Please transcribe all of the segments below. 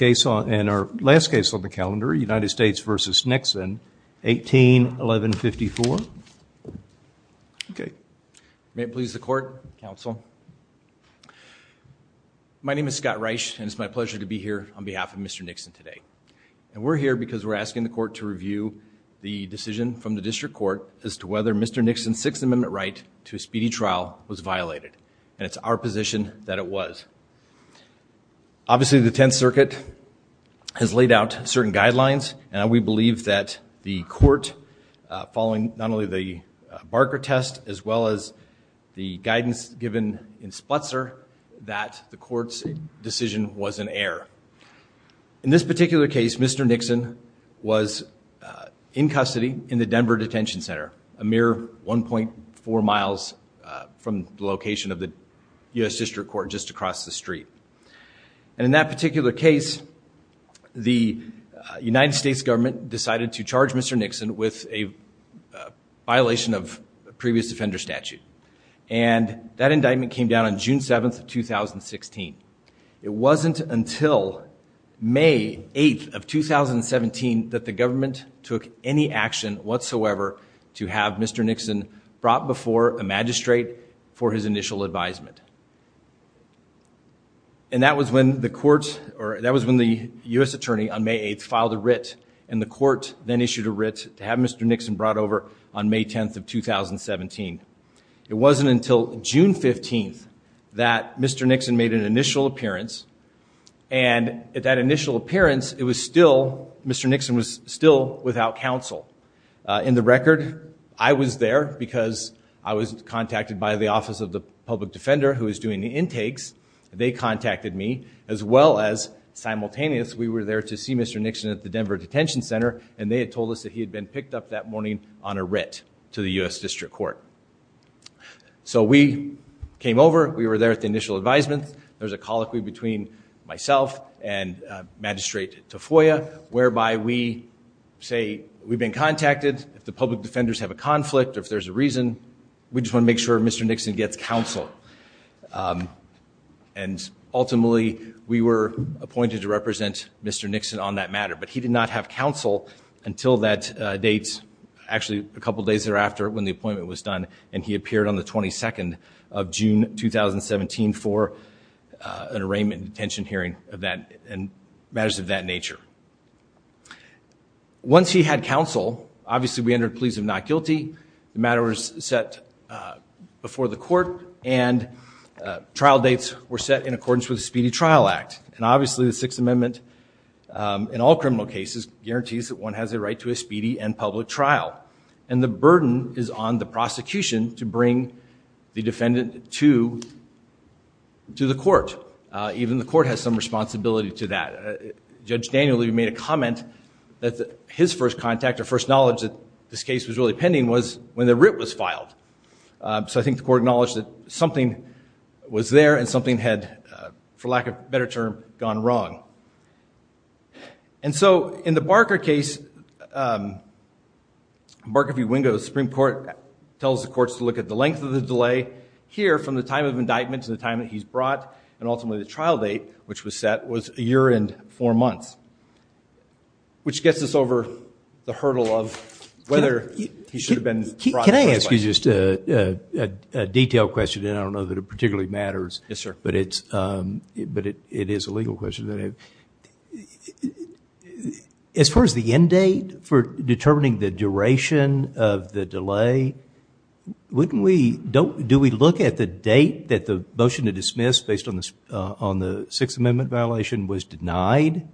And our last case on the calendar, United States v. Nixon, 18-1154. Okay. May it please the court, counsel. My name is Scott Reich, and it's my pleasure to be here on behalf of Mr. Nixon today. And we're here because we're asking the court to review the decision from the district court as to whether Mr. Nixon's Sixth Amendment right to a speedy trial was violated, and it's our position that it was. Obviously, the Tenth Circuit has laid out certain guidelines, and we believe that the court, following not only the Barker test, as well as the guidance given in Spletzer, that the court's decision was an error. In this particular case, Mr. Nixon was in custody in the Denver Detention Center, a location of the U.S. district court just across the street. And in that particular case, the United States government decided to charge Mr. Nixon with a violation of a previous defender statute. And that indictment came down on June 7th, 2016. It wasn't until May 8th of 2017 that the government took any action whatsoever to have Mr. Nixon brought before a magistrate for his initial advisement. And that was when the court, or that was when the U.S. attorney on May 8th filed a writ, and the court then issued a writ to have Mr. Nixon brought over on May 10th of 2017. It wasn't until June 15th that Mr. Nixon made an initial appearance. And at that initial appearance, it was still, Mr. Nixon was still without counsel. In the record, I was there because I was contacted by the Office of the Public Defender who was doing the intakes. They contacted me, as well as simultaneous, we were there to see Mr. Nixon at the Denver Detention Center, and they had told us that he had been picked up that morning on a writ to the U.S. district court. So we came over, we were there at the initial advisement, there was a colloquy between myself and Magistrate Tafoya, whereby we say, we've been contacted, if the public defenders have a conflict or if there's a reason, we just want to make sure Mr. Nixon gets counsel. And ultimately, we were appointed to represent Mr. Nixon on that matter. But he did not have counsel until that date, actually a couple days thereafter when the appointment was done, and he appeared on the 22nd of June 2017 for an arraignment detention hearing and matters of that nature. Once he had counsel, obviously we entered pleas of not guilty, the matter was set before the court, and trial dates were set in accordance with the Speedy Trial Act. And obviously the Sixth Amendment, in all criminal cases, guarantees that one has a right to a speedy and public trial. And the burden is on the prosecution to bring the defendant to the court. Even the court has some responsibility to that. Judge Daniel made a comment that his first contact or first knowledge that this case was really pending was when the writ was filed. So I think the court acknowledged that something was there and something had, for lack of a better term, gone wrong. And so, in the Barker case, Barker v. Wingo, the Supreme Court tells the courts to look at the length of the delay here from the time of indictment to the time that he's brought and ultimately the trial date, which was set, was a year and four months. Which gets us over the hurdle of whether he should have been brought in the first place. Can I ask you just a detailed question, and I don't know that it particularly matters, but it is a legal question. As far as the end date for determining the duration of the delay, wouldn't we, do we look at the date that the motion to dismiss, based on the Sixth Amendment violation, was denied?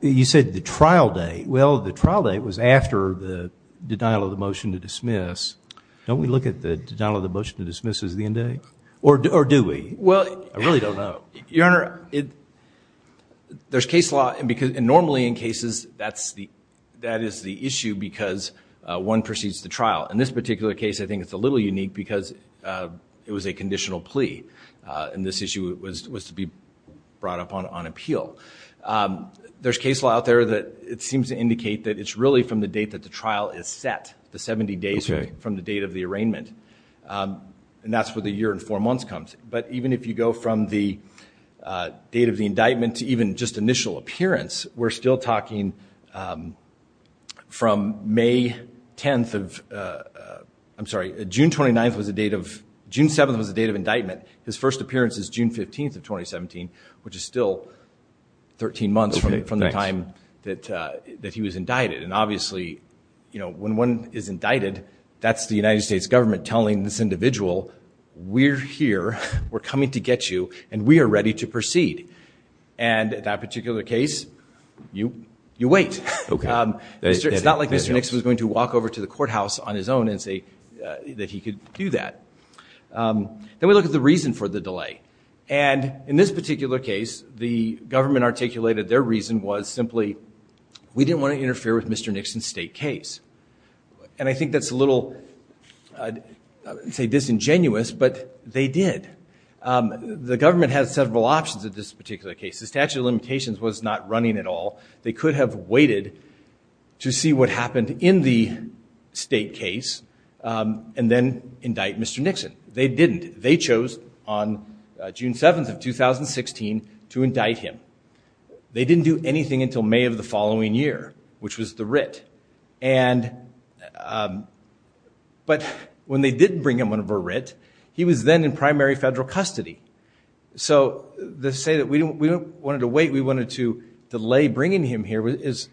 You said the trial date. Well, the trial date was after the denial of the motion to dismiss. Don't we look at the denial of the motion to dismiss as the end date? Or do we? Well, I really don't know. Your Honor, there's case law, and normally in cases, that is the issue because one precedes the trial. In this particular case, I think it's a little unique because it was a conditional plea, and this issue was to be brought up on appeal. There's case law out there that it seems to indicate that it's really from the date that the trial is set, the 70 days from the date of the arraignment, and that's where the year and four months comes. But even if you go from the date of the indictment to even just initial appearance, we're still May 10th of... I'm sorry, June 29th was the date of... June 7th was the date of indictment. His first appearance is June 15th of 2017, which is still 13 months from the time that he was indicted. And obviously, when one is indicted, that's the United States government telling this individual, we're here, we're coming to get you, and we are ready to proceed. And that particular case, you wait. It's not like Mr. Nix was going to walk over to the courthouse on his own and say that he could do that. Then we look at the reason for the delay. And in this particular case, the government articulated their reason was simply, we didn't want to interfere with Mr. Nix's state case. And I think that's a little, I would say, disingenuous, but they did. The government had several options at this particular case. The statute of limitations was not running at all. They could have waited to see what happened in the state case, and then indict Mr. Nixon. They didn't. They chose on June 7th of 2016 to indict him. They didn't do anything until May of the following year, which was the writ. But when they did bring him under a writ, he was then in primary federal custody. So to say that we wanted to wait, we wanted to delay bringing him here is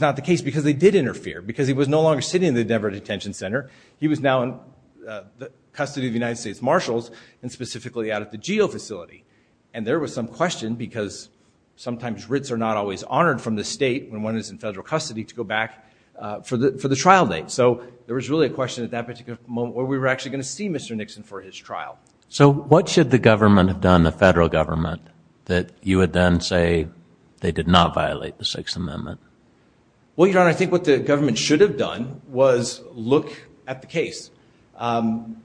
not the case, because they did interfere. Because he was no longer sitting in the Denver Detention Center. He was now in custody of the United States Marshals, and specifically out at the GEO facility. And there was some question, because sometimes writs are not always honored from the state when one is in federal custody, to go back for the trial date. So there was really a question at that particular moment where we were actually going to see Mr. Nixon for his trial. So what should the government have done, the federal government, that you would then say they did not violate the Sixth Amendment? Well, Your Honor, I think what the government should have done was look at the case and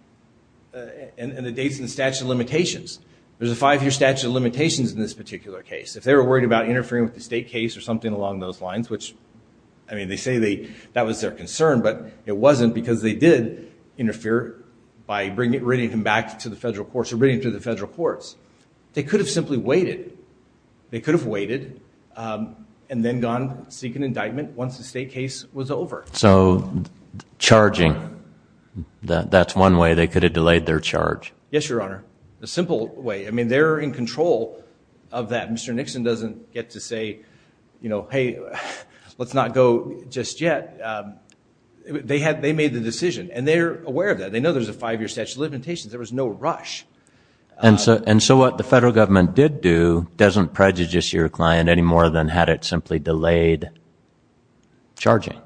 the dates and statute of limitations. There's a five-year statute of limitations in this particular case. If they were worried about interfering with the state case or something along those lines, which I mean, they say that was their concern, but it wasn't, because they did interfere by bringing him back to the federal courts, or bringing him to the federal courts. They could have simply waited. They could have waited and then gone seek an indictment once the state case was over. So charging, that's one way they could have delayed their charge. Yes, Your Honor. A simple way. I mean, they're in control of that. Mr. Nixon doesn't get to say, you know, hey, let's not go just yet. They made the decision, and they're aware of that. They know there's a five-year statute of limitations. There was no rush. And so what the federal government did do doesn't prejudice your client any more than had it simply delayed charging?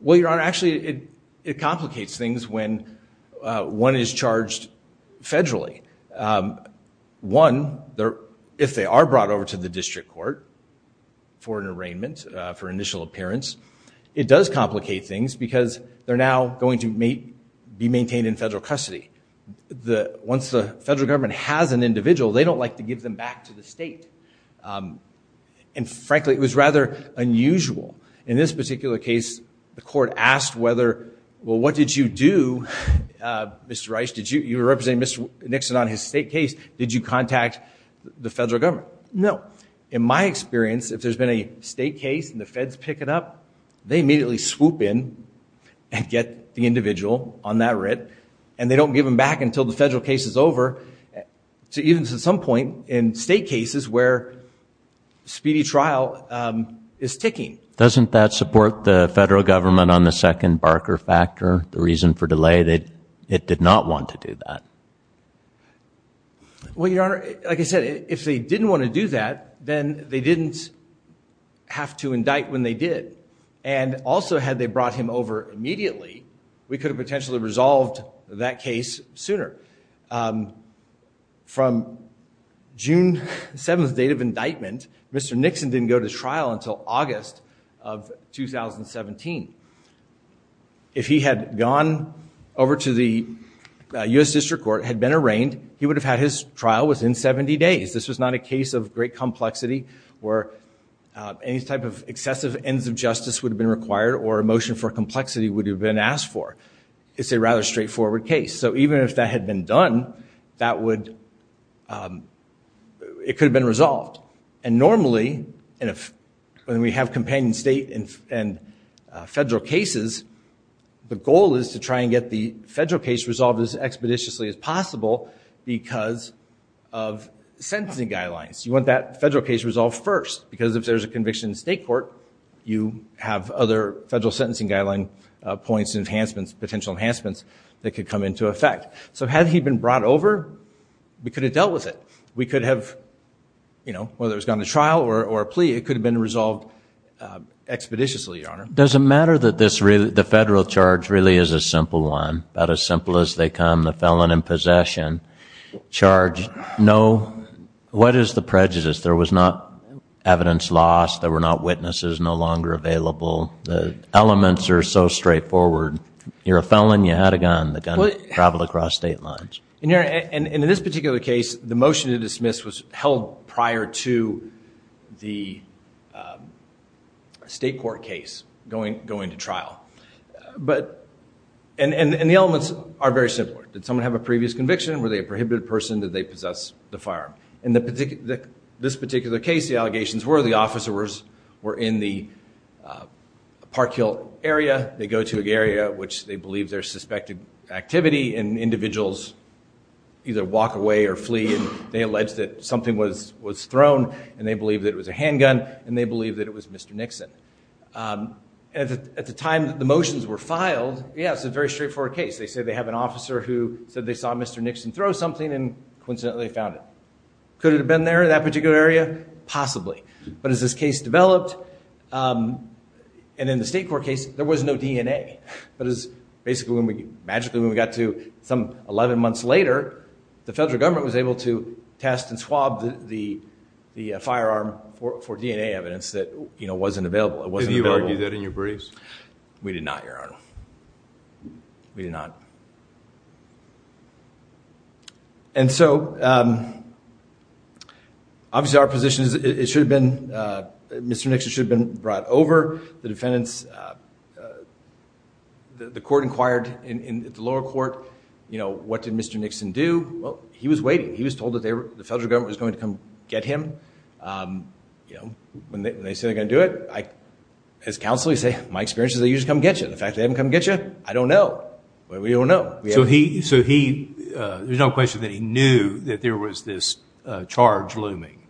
Well, Your Honor, actually, it complicates things when one is charged federally. One, if they are brought over to the district court for an arraignment, for initial appearance, it does complicate things because they're now going to be maintained in federal custody. Once the federal government has an individual, they don't like to give them back to the state. And frankly, it was rather unusual. In this particular case, the court asked whether, well, what did you do, Mr. Rice? You were representing Mr. Nixon on his state case. Did you contact the federal government? No. In my experience, if there's been a state case and the feds pick it up, they immediately swoop in and get the individual on that writ, and they don't give them back until the federal case is over, even to some point in state cases where speedy trial is ticking. Doesn't that support the federal government on the second Barker factor, the reason for delay that it did not want to do that? Well, Your Honor, like I said, if they didn't want to do that, then they didn't have to indict when they did. And also, had they brought him over immediately, we could have potentially resolved that case sooner. From June 7th, date of indictment, Mr. Nixon didn't go to trial until August of 2017. If he had gone over to the U.S. District Court, had been arraigned, he would have had his trial within 70 days. This was not a case of great complexity where any type of excessive ends of justice would have been required or a motion for complexity would have been asked for. It's a rather straightforward case. So even if that had been done, it could have been resolved. And normally, when we have companion state and federal cases, the goal is to try and get the federal case resolved as expeditiously as possible because of sentencing guidelines. You want that federal case resolved first. Because if there's a conviction in state court, you have other federal sentencing guideline points and enhancements, potential enhancements that could come into effect. So had he been brought over, we could have dealt with it. We could have, whether it was gone to trial or a plea, it could have been resolved expeditiously, Your Honor. Does it matter that the federal charge really is a simple one, about as simple as they come, the felon in possession, charged no, what is the prejudice? There was not evidence lost, there were not witnesses, no longer available, the elements are so straightforward. You're a felon, you had a gun, the gun traveled across state lines. And in this particular case, the motion to dismiss was held prior to the state court case going to trial. But, and the elements are very simple. Did someone have a previous conviction, were they a prohibited person, did they possess the firearm? In this particular case, the allegations were the officers were in the Park Hill area, they believe there's suspected activity, and individuals either walk away or flee, and they allege that something was thrown, and they believe that it was a handgun, and they believe that it was Mr. Nixon. At the time that the motions were filed, yeah, it's a very straightforward case. They say they have an officer who said they saw Mr. Nixon throw something and coincidentally found it. Could it have been there, that particular area? Possibly. But as this case developed, and in the state court case, there was no DNA. But it was basically, magically, when we got to some 11 months later, the federal government was able to test and swab the firearm for DNA evidence that, you know, wasn't available. It wasn't available. Did you argue that in your briefs? We did not, Your Honor. We did not. And so, obviously our position is it should have been, Mr. Nixon should have been brought over. The defendants, the court inquired in the lower court, you know, what did Mr. Nixon do? Well, he was waiting. He was told that the federal government was going to come get him. You know, when they say they're going to do it, as counsel, I say, my experience is they usually come get you. The fact that they haven't come get you, I don't know. But we don't know. So he, there's no question that he knew that there was this charge looming.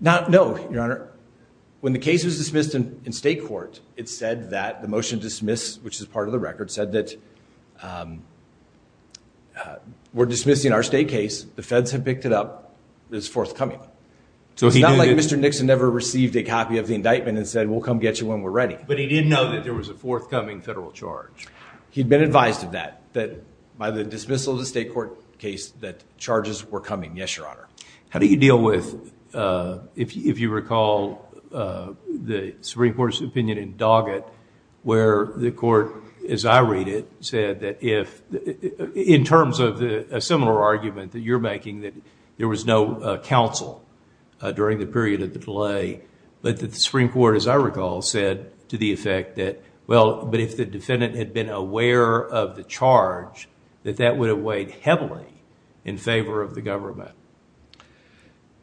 No, Your Honor. When the case was dismissed in state court, it said that the motion dismissed, which is part of the record, said that we're dismissing our state case. The feds have picked it up. It's forthcoming. So it's not like Mr. Nixon never received a copy of the indictment and said, we'll come get you when we're ready. But he didn't know that there was a forthcoming federal charge. He'd been advised of that, that by the dismissal of the state court case, that charges were coming. Yes, Your Honor. How do you deal with, if you recall, the Supreme Court's opinion in Doggett, where the court, as I read it, said that if, in terms of a similar argument that you're making, that there was no counsel during the period of the delay, but that the Supreme Court, as I recall, said to the effect that, well, but if the defendant had been aware of the charge, that that would have weighed heavily in favor of the government.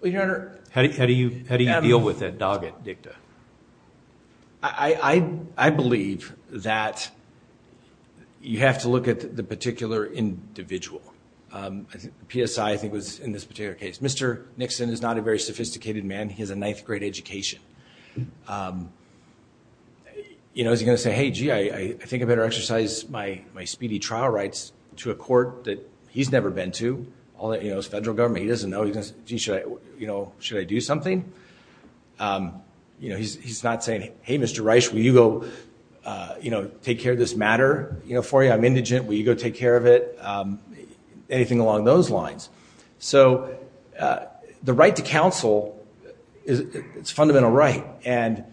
Well, Your Honor- How do you deal with that Doggett dicta? I believe that you have to look at the particular individual. PSI, I think, was in this particular case. Mr. Nixon is not a very sophisticated man. He has a ninth grade education. Is he going to say, hey, gee, I think I better exercise my speedy trial rights to a court that he's never been to, all that is federal government, he doesn't know, should I do something? He's not saying, hey, Mr. Reich, will you go take care of this matter for me? I'm indigent. Will you go take care of it? Anything along those lines. So the right to counsel, it's a fundamental right. And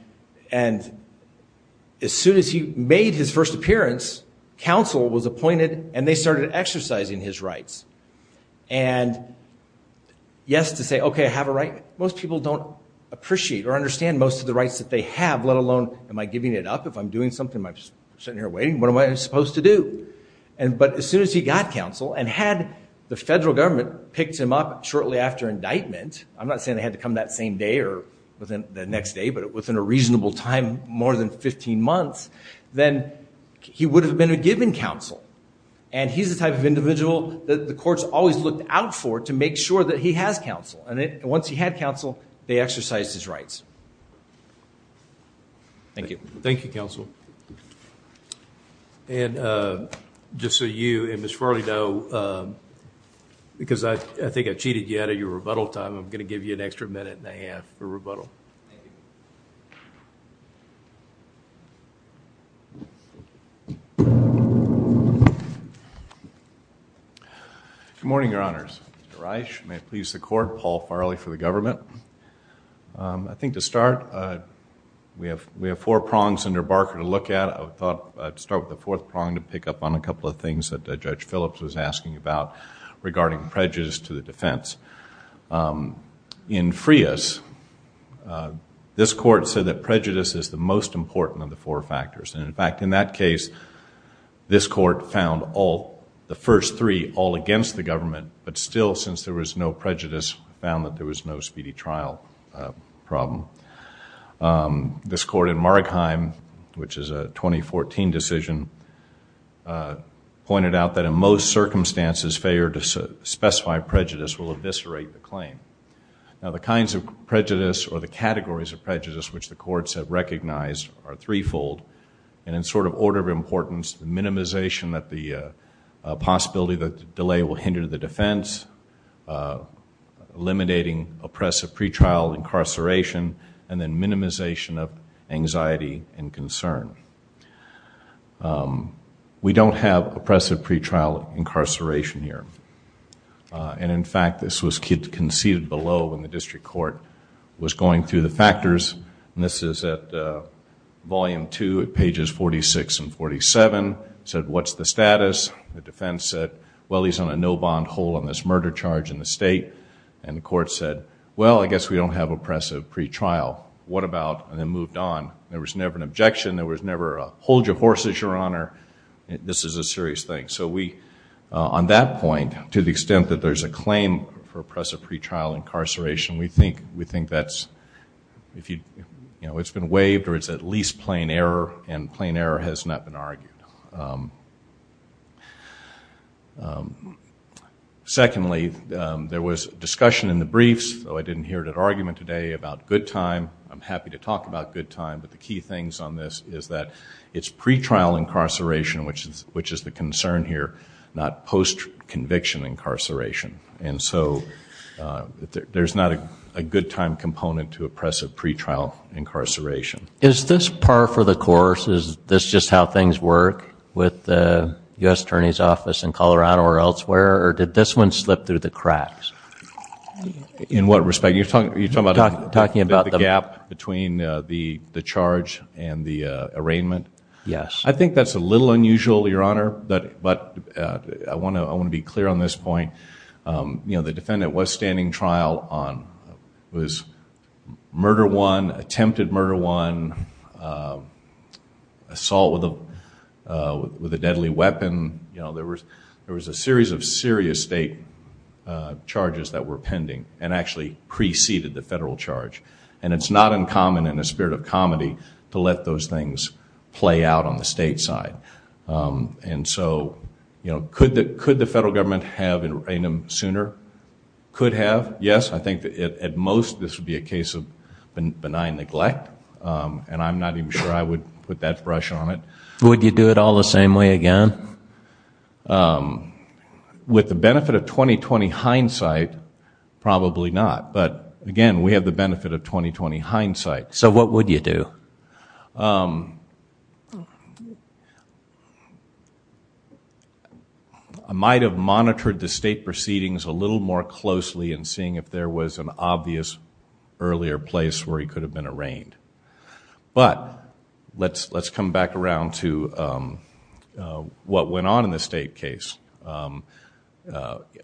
as soon as he made his first appearance, counsel was appointed and they started exercising his rights. And yes, to say, okay, I have a right. Most people don't appreciate or understand most of the rights that they have, let alone am I giving it up? If I'm doing something, am I sitting here waiting? What am I supposed to do? But as soon as he got counsel and had the federal government picked him up shortly after indictment, I'm not saying they had to come that same day or within the next day, but within a reasonable time, more than 15 months, then he would have been a given counsel. And he's the type of individual that the courts always looked out for to make sure that he has counsel. And once he had counsel, they exercised his rights. Thank you. Thank you, counsel. And just so you and Ms. Farley know, because I think I cheated you out of your rebuttal time, I'm going to give you an extra minute and a half for rebuttal. Thank you. Good morning, your honors. Mr. Reich, may it please the court, Paul Farley for the government. I think to start, we have four prongs under Barker to look at. I thought I'd start with the fourth prong to pick up on a couple of things that Judge Phillips was asking about regarding prejudice to the defense. In Frias, this court said that prejudice is the most important of the four factors. And in fact, in that case, this court found the first three all against the government, but still, since there was no prejudice, found that there was no speedy trial problem. This court in Margheim, which is a 2014 decision, pointed out that in most circumstances, failure to specify prejudice will eviscerate the claim. Now, the kinds of prejudice or the categories of prejudice which the courts have recognized are threefold, and in sort of order of importance, the minimization that the possibility that the delay will hinder the defense, eliminating oppressive pretrial incarceration, and then minimization of anxiety and concern. We don't have oppressive pretrial incarceration here. And in fact, this was conceded below when the district court was going through the factors. This is at volume two, pages 46 and 47. It said, what's the status? The defense said, well, he's on a no-bond hold on this murder charge in the state. And the court said, well, I guess we don't have oppressive pretrial. What about, and then moved on. There was never an objection. There was never a hold your horses, Your Honor. This is a serious thing. So we, on that point, to the extent that there's a claim for oppressive pretrial incarceration, we think that's, you know, it's been waived or it's at least plain error, and plain error has not been argued. Secondly, there was discussion in the briefs, though I didn't hear it at argument today, about good time. I'm happy to talk about good time, but the key things on this is that it's pretrial incarceration, which is the concern here, not post-conviction incarceration. And so there's not a good time component to oppressive pretrial incarceration. Is this par for the course? Is this just how things work with the U.S. Attorney's Office in Colorado or elsewhere, or did this one slip through the cracks? In what respect? You're talking about the gap between the charge and the arraignment? Yes. I think that's a little unusual, Your Honor, but I want to be clear on this point. You know, the defendant was standing trial on murder one, attempted murder one, assault with a deadly weapon. You know, there was a series of serious state charges that were pending and actually preceded the federal charge, and it's not uncommon in the spirit of comedy to let those things play out on the state side. And so, you know, could the federal government have arraigned him sooner? Could have, yes. I think that at most this would be a case of benign neglect, and I'm not even sure I would put that brush on it. Would you do it all the same way again? With the benefit of 20-20 hindsight, probably not. But, again, we have the benefit of 20-20 hindsight. So what would you do? I might have monitored the state proceedings a little more closely in seeing if there was an obvious earlier place where he could have been arraigned. But let's come back around to what went on in the state case.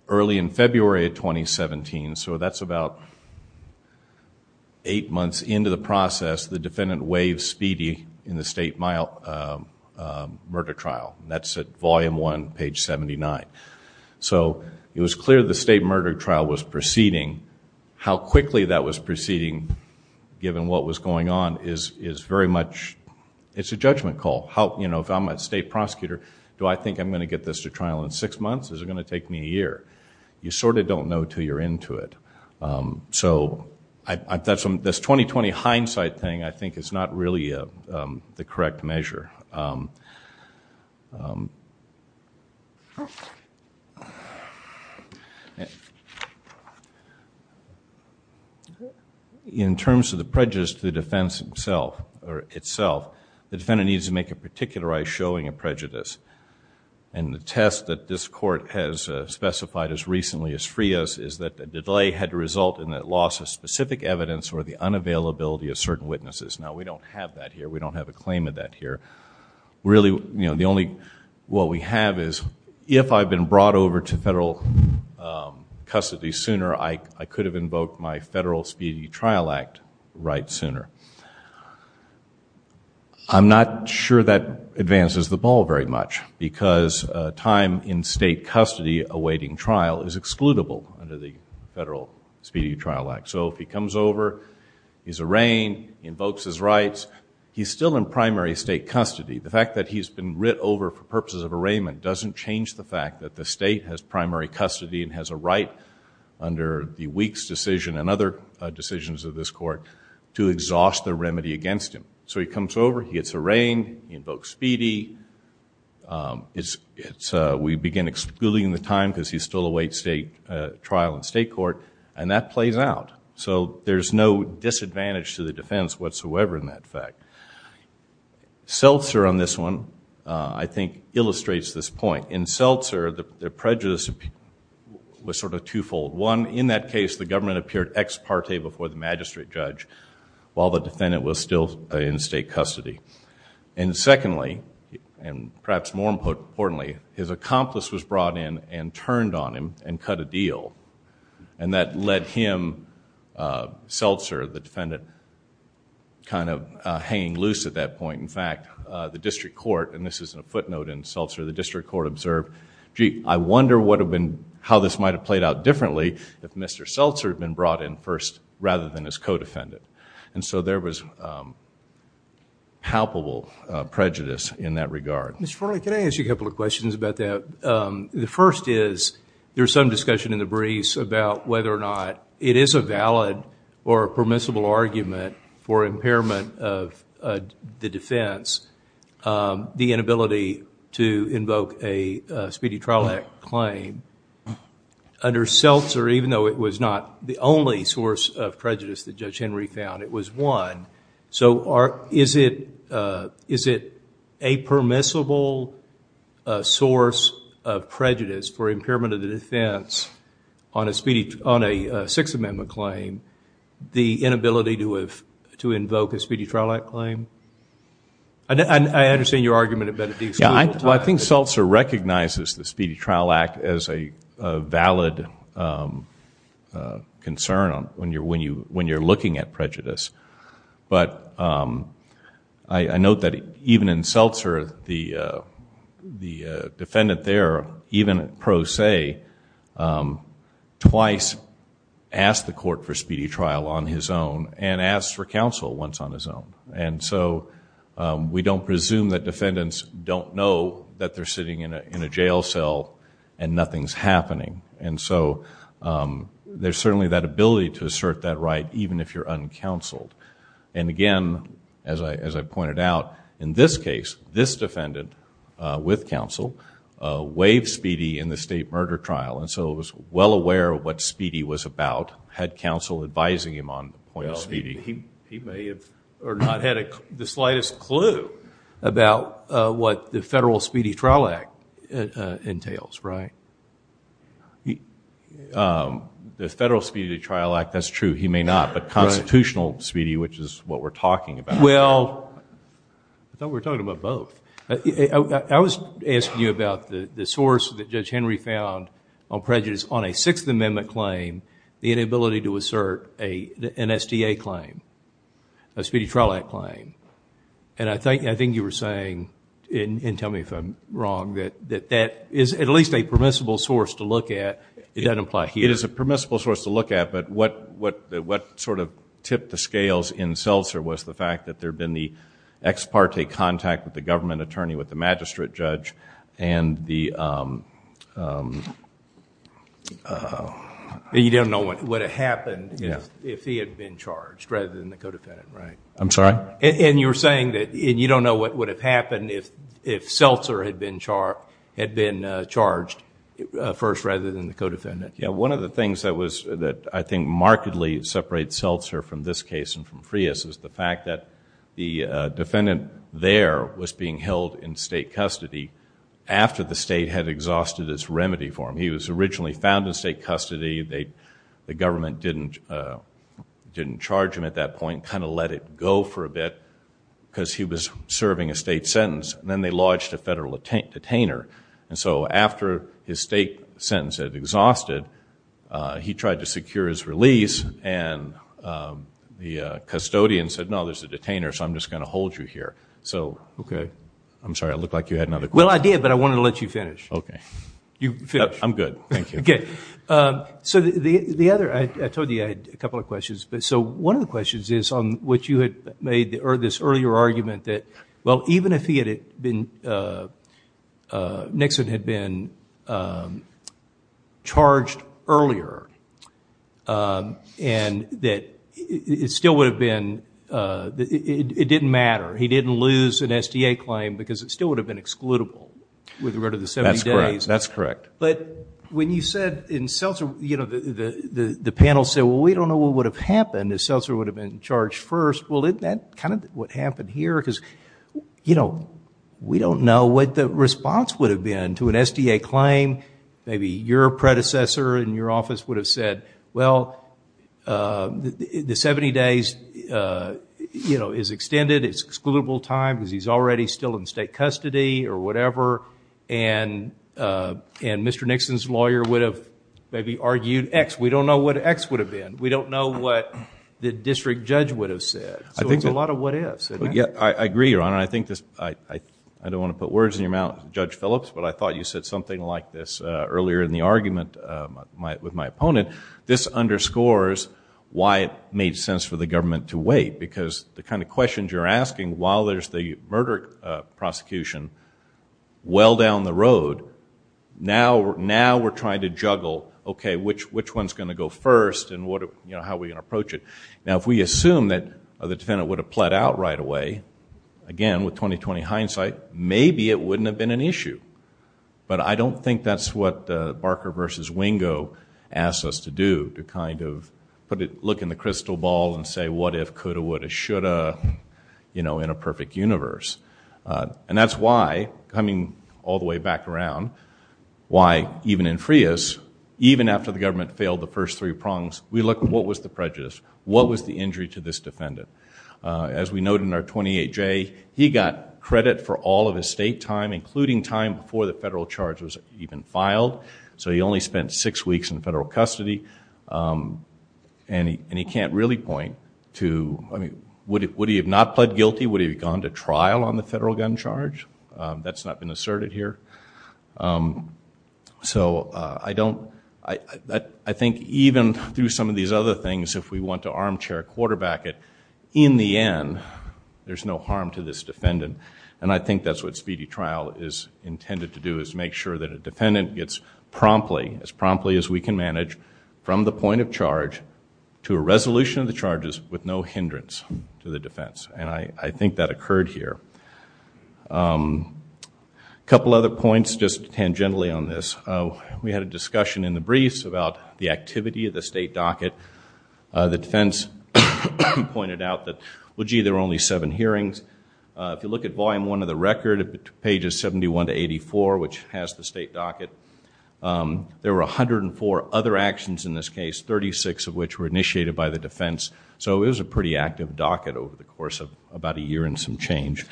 Early in February of 2017, so that's about eight months into the process, the defendant waved speedy in the state murder trial. That's at volume one, page 79. So it was clear the state murder trial was proceeding. How quickly that was proceeding, given what was going on, is very much a judgment call. You know, if I'm a state prosecutor, do I think I'm going to get this to trial in six months? Is it going to take me a year? You sort of don't know until you're into it. So this 20-20 hindsight thing, I think, is not really the correct measure. In terms of the prejudice to the defense itself, the defendant needs to make a particularized showing of prejudice. And the test that this court has specified as recently as free us is that the delay had to result in the loss of specific evidence or the unavailability of certain witnesses. Now, we don't have that here. We don't have a claim of that here. Really, you know, the only what we have is if I've been brought over to federal custody sooner, I could have invoked my Federal Speedy Trial Act right sooner. I'm not sure that advances the ball very much because time in state custody awaiting trial is excludable under the Federal Speedy Trial Act. So if he comes over, he's arraigned, invokes his rights, he's still in primary state custody. The fact that he's been writ over for purposes of arraignment doesn't change the fact that the state has primary custody and has a right under the Weeks decision and other decisions of this court to exhaust the remedy against him. So he comes over, he gets arraigned, he invokes speedy. We begin excluding the time because he's still awaiting state trial in state court, and that plays out. So there's no disadvantage to the defense whatsoever in that fact. Seltzer on this one, I think, illustrates this point. In Seltzer, the prejudice was sort of twofold. One, in that case, the government appeared ex parte before the magistrate judge while the defendant was still in state custody. And secondly, and perhaps more importantly, his accomplice was brought in and turned on him and cut a deal. And that led him, Seltzer, the defendant, kind of hanging loose at that point. In fact, the district court, and this is a footnote in Seltzer, the district court observed, gee, I wonder how this might have played out differently if Mr. Seltzer had been brought in first rather than his co-defendant. And so there was palpable prejudice in that regard. Mr. Forley, can I ask you a couple of questions about that? The first is there's some discussion in the briefs about whether or not it is a valid or permissible argument for impairment of the defense, the inability to invoke a Speedy Trial Act claim. Under Seltzer, even though it was not the only source of prejudice that Judge Henry found, it was one. So is it a permissible source of prejudice for impairment of the defense on a Sixth Amendment claim, the inability to invoke a Speedy Trial Act claim? I understand your argument at Benedictine. Well, I think Seltzer recognizes the Speedy Trial Act as a valid concern when you're looking at prejudice. But I note that even in Seltzer, the defendant there, even pro se, twice asked the court for Speedy Trial on his own and asked for counsel once on his own. So we don't presume that defendants don't know that they're sitting in a jail cell and nothing's happening. So there's certainly that ability to assert that right even if you're uncounseled. Again, as I pointed out, in this case, this defendant with counsel waived Speedy in the state murder trial. So it was well aware of what Speedy was about, had counsel advising him on the point of Speedy. He may have or not had the slightest clue about what the federal Speedy Trial Act entails, right? The federal Speedy Trial Act, that's true. He may not, but constitutional Speedy, which is what we're talking about. Well, I thought we were talking about both. I was asking you about the source that Judge Henry found on prejudice on a Sixth Amendment claim, the inability to assert an SDA claim, a Speedy Trial Act claim. And I think you were saying, and tell me if I'm wrong, that that is at least a permissible source to look at. It doesn't apply here. It is a permissible source to look at, but what sort of tipped the scales in Seltzer was the fact that there had been the ex parte contact with the government attorney, with the magistrate judge, and the... You don't know what would have happened if he had been charged rather than the co-defendant, right? I'm sorry? And you're saying that you don't know what would have happened if Seltzer had been charged first rather than the co-defendant. Yeah. One of the things that I think markedly separates Seltzer from this case and from Frias is the fact that the defendant there was being held in state custody after the state had exhausted its remedy for him. He was originally found in state custody. The government didn't charge him at that point, kind of let it go for a bit because he was serving a state sentence, and then they lodged a federal detainer. And so after his state sentence had exhausted, he tried to secure his release, and the custodian said, no, there's a detainer, so I'm just going to hold you here. So... Okay. I'm sorry. I looked like you had another question. Well, I did, but I wanted to let you finish. Okay. You finished? I'm good. Thank you. Okay. So the other... I told you I had a couple of questions. So one of the questions is on what you had made, this earlier argument that, well, even if he had been... Nixon had been charged earlier and that it still would have been... it didn't matter. He didn't lose an SDA claim because it still would have been excludable with regard to the 70 days. That's correct. But when you said in Seltzer, you know, the panel said, well, we don't know what would have happened if Seltzer would have been charged first. Well, isn't that kind of what happened here? Because, you know, we don't know what the response would have been to an SDA claim. Maybe your predecessor in your office would have said, well, the 70 days, you know, is extended. It's excludable time because he's already still in state custody or whatever. And Mr. Nixon's lawyer would have maybe argued X. We don't know what X would have been. We don't know what the district judge would have said. So it's a lot of what ifs. I agree, Your Honor. I don't want to put words in your mouth, Judge Phillips, but I thought you said something like this earlier in the argument with my opponent. This underscores why it made sense for the government to wait because the kind of questions you're asking while there's the murder prosecution well down the road, now we're trying to juggle, okay, which one's going to go first and how we're going to approach it. Now, if we assume that the defendant would have pled out right away, again, with 20-20 hindsight, maybe it wouldn't have been an issue. But I don't think that's what Barker v. Wingo asked us to do, to kind of look in the crystal ball and say what if, coulda, woulda, shoulda, you know, in a perfect universe. And that's why, coming all the way back around, why even in Frias, even after the government failed the first three prongs, we looked at what was the prejudice, what was the injury to this defendant. As we noted in our 28-J, he got credit for all of his state time, including time before the federal charge was even filed. So he only spent six weeks in federal custody. And he can't really point to, I mean, would he have not pled guilty? Would he have gone to trial on the federal gun charge? That's not been asserted here. So I think even through some of these other things, if we want to armchair quarterback it, in the end, there's no harm to this defendant. And I think that's what speedy trial is intended to do, is make sure that a defendant gets promptly, as promptly as we can manage, from the point of charge to a resolution of the charges with no hindrance to the defense. And I think that occurred here. A couple other points, just tangentially on this. We had a discussion in the briefs about the activity of the state docket. The defense pointed out that, well, gee, there were only seven hearings. If you look at volume one of the record, pages 71 to 84, which has the state docket, there were 104 other actions in this case, 36 of which were initiated by the defense. So it was a pretty active docket over the course of about a year and some change.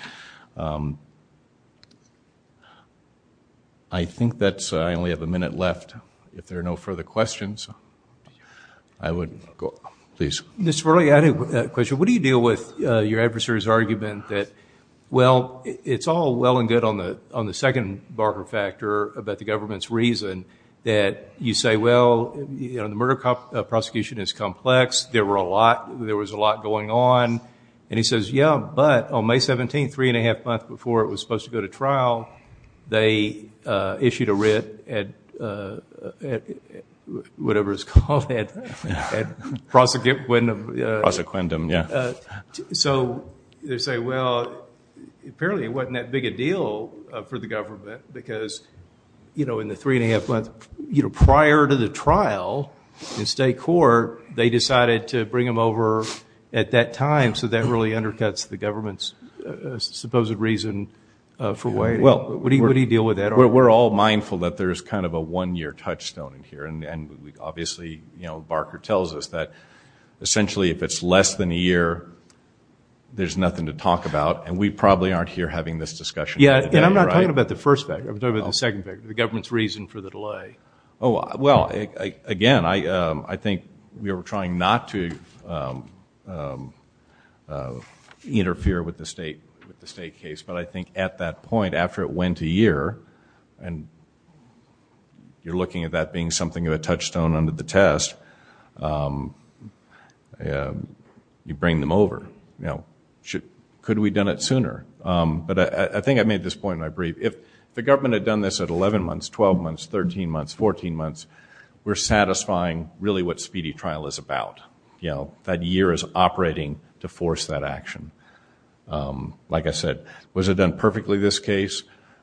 I think that's it. I only have a minute left. If there are no further questions, I would go. Please. Mr. Verli, I had a question. What do you deal with your adversary's argument that, well, it's all well and good on the second Barker factor about the government's reason, that you say, well, the murder prosecution is complex. There was a lot going on. And he says, yeah, but on May 17th, three and a half months before it was supposed to go to trial, they issued a writ at whatever it's called, at prosecuendum. Prosecundum, yeah. So they say, well, apparently it wasn't that big a deal for the government because in the three and a half months prior to the trial in state court, they decided to bring him over at that time, so that really undercuts the government's supposed reason for waiting. What do you deal with that argument? Well, we're all mindful that there's kind of a one-year touchstone in here. And obviously, you know, Barker tells us that essentially if it's less than a year, there's nothing to talk about. And we probably aren't here having this discussion. Yeah, and I'm not talking about the first factor. I'm talking about the second factor, the government's reason for the delay. Oh, well, again, I think we were trying not to interfere with the state case. But I think at that point, after it went a year, and you're looking at that being something of a touchstone under the test, you bring them over. You know, could we have done it sooner? But I think I made this point in my brief. If the government had done this at 11 months, 12 months, 13 months, 14 months, we're satisfying really what speedy trial is about. You know, that year is operating to force that action. Like I said, was it done perfectly, this case?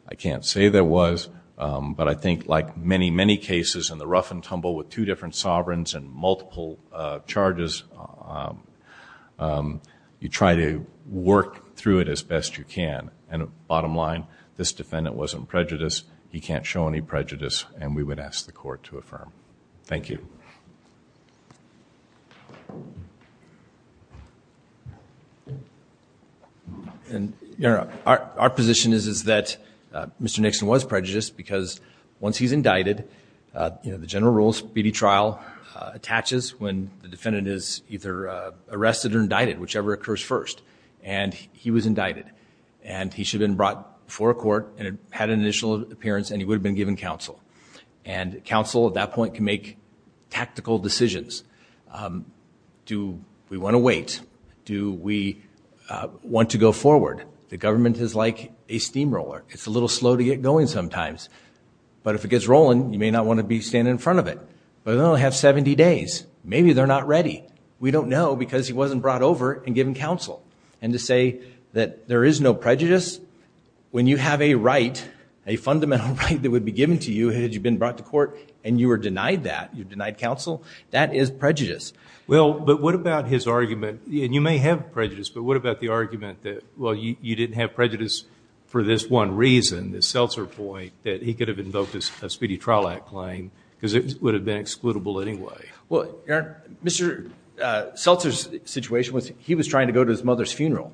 I can't say that it was. But I think like many, many cases in the rough and tumble with two different sovereigns and multiple charges, you try to work through it as best you can. And bottom line, this defendant wasn't prejudiced. He can't show any prejudice, and we would ask the court to affirm. Thank you. Our position is that Mr. Nixon was prejudiced because once he's indicted, you know, the general rule of speedy trial attaches when the defendant is either arrested or indicted, whichever occurs first. And he was indicted, and he should have been brought before a court and had an initial appearance, and he would have been given counsel. And counsel at that point can make tactical decisions. Do we want to wait? Do we want to go forward? The government is like a steamroller. It's a little slow to get going sometimes. But if it gets rolling, you may not want to be standing in front of it. But they only have 70 days. Maybe they're not ready. We don't know because he wasn't brought over and given counsel. And to say that there is no prejudice, when you have a right, a fundamental right that would be given to you had you been brought to court and you were denied that, you denied counsel, that is prejudice. Well, but what about his argument, and you may have prejudice, but what about the argument that, well, you didn't have prejudice for this one reason, the seltzer point, that he could have invoked a Speedy Trial Act claim because it would have been excludable anyway. Well, Aaron, Mr. Seltzer's situation was he was trying to go to his mother's funeral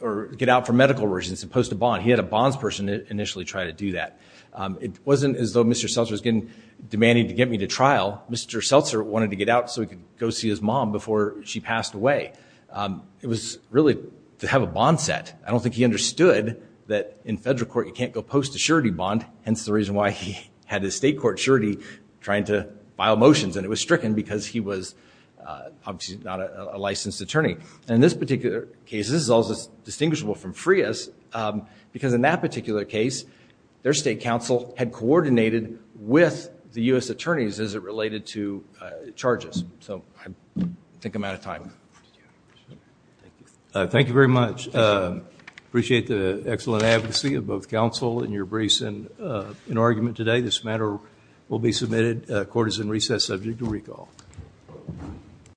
or get out for medical reasons and post a bond. He had a bonds person initially try to do that. It wasn't as though Mr. Seltzer was demanding to get me to trial. Mr. Seltzer wanted to get out so he could go see his mom before she passed away. It was really to have a bond set. I don't think he understood that in federal court you can't go post a surety bond, hence the reason why he had his state court surety trying to file motions, and it was stricken because he was obviously not a licensed attorney. And in this particular case, this is also distinguishable from Frias because in that particular case their state counsel had coordinated with the U.S. attorneys as it related to charges. So I think I'm out of time. Thank you very much. Appreciate the excellent advocacy of both counsel and your briefs in argument today. This matter will be submitted. Court is in recess subject to recall.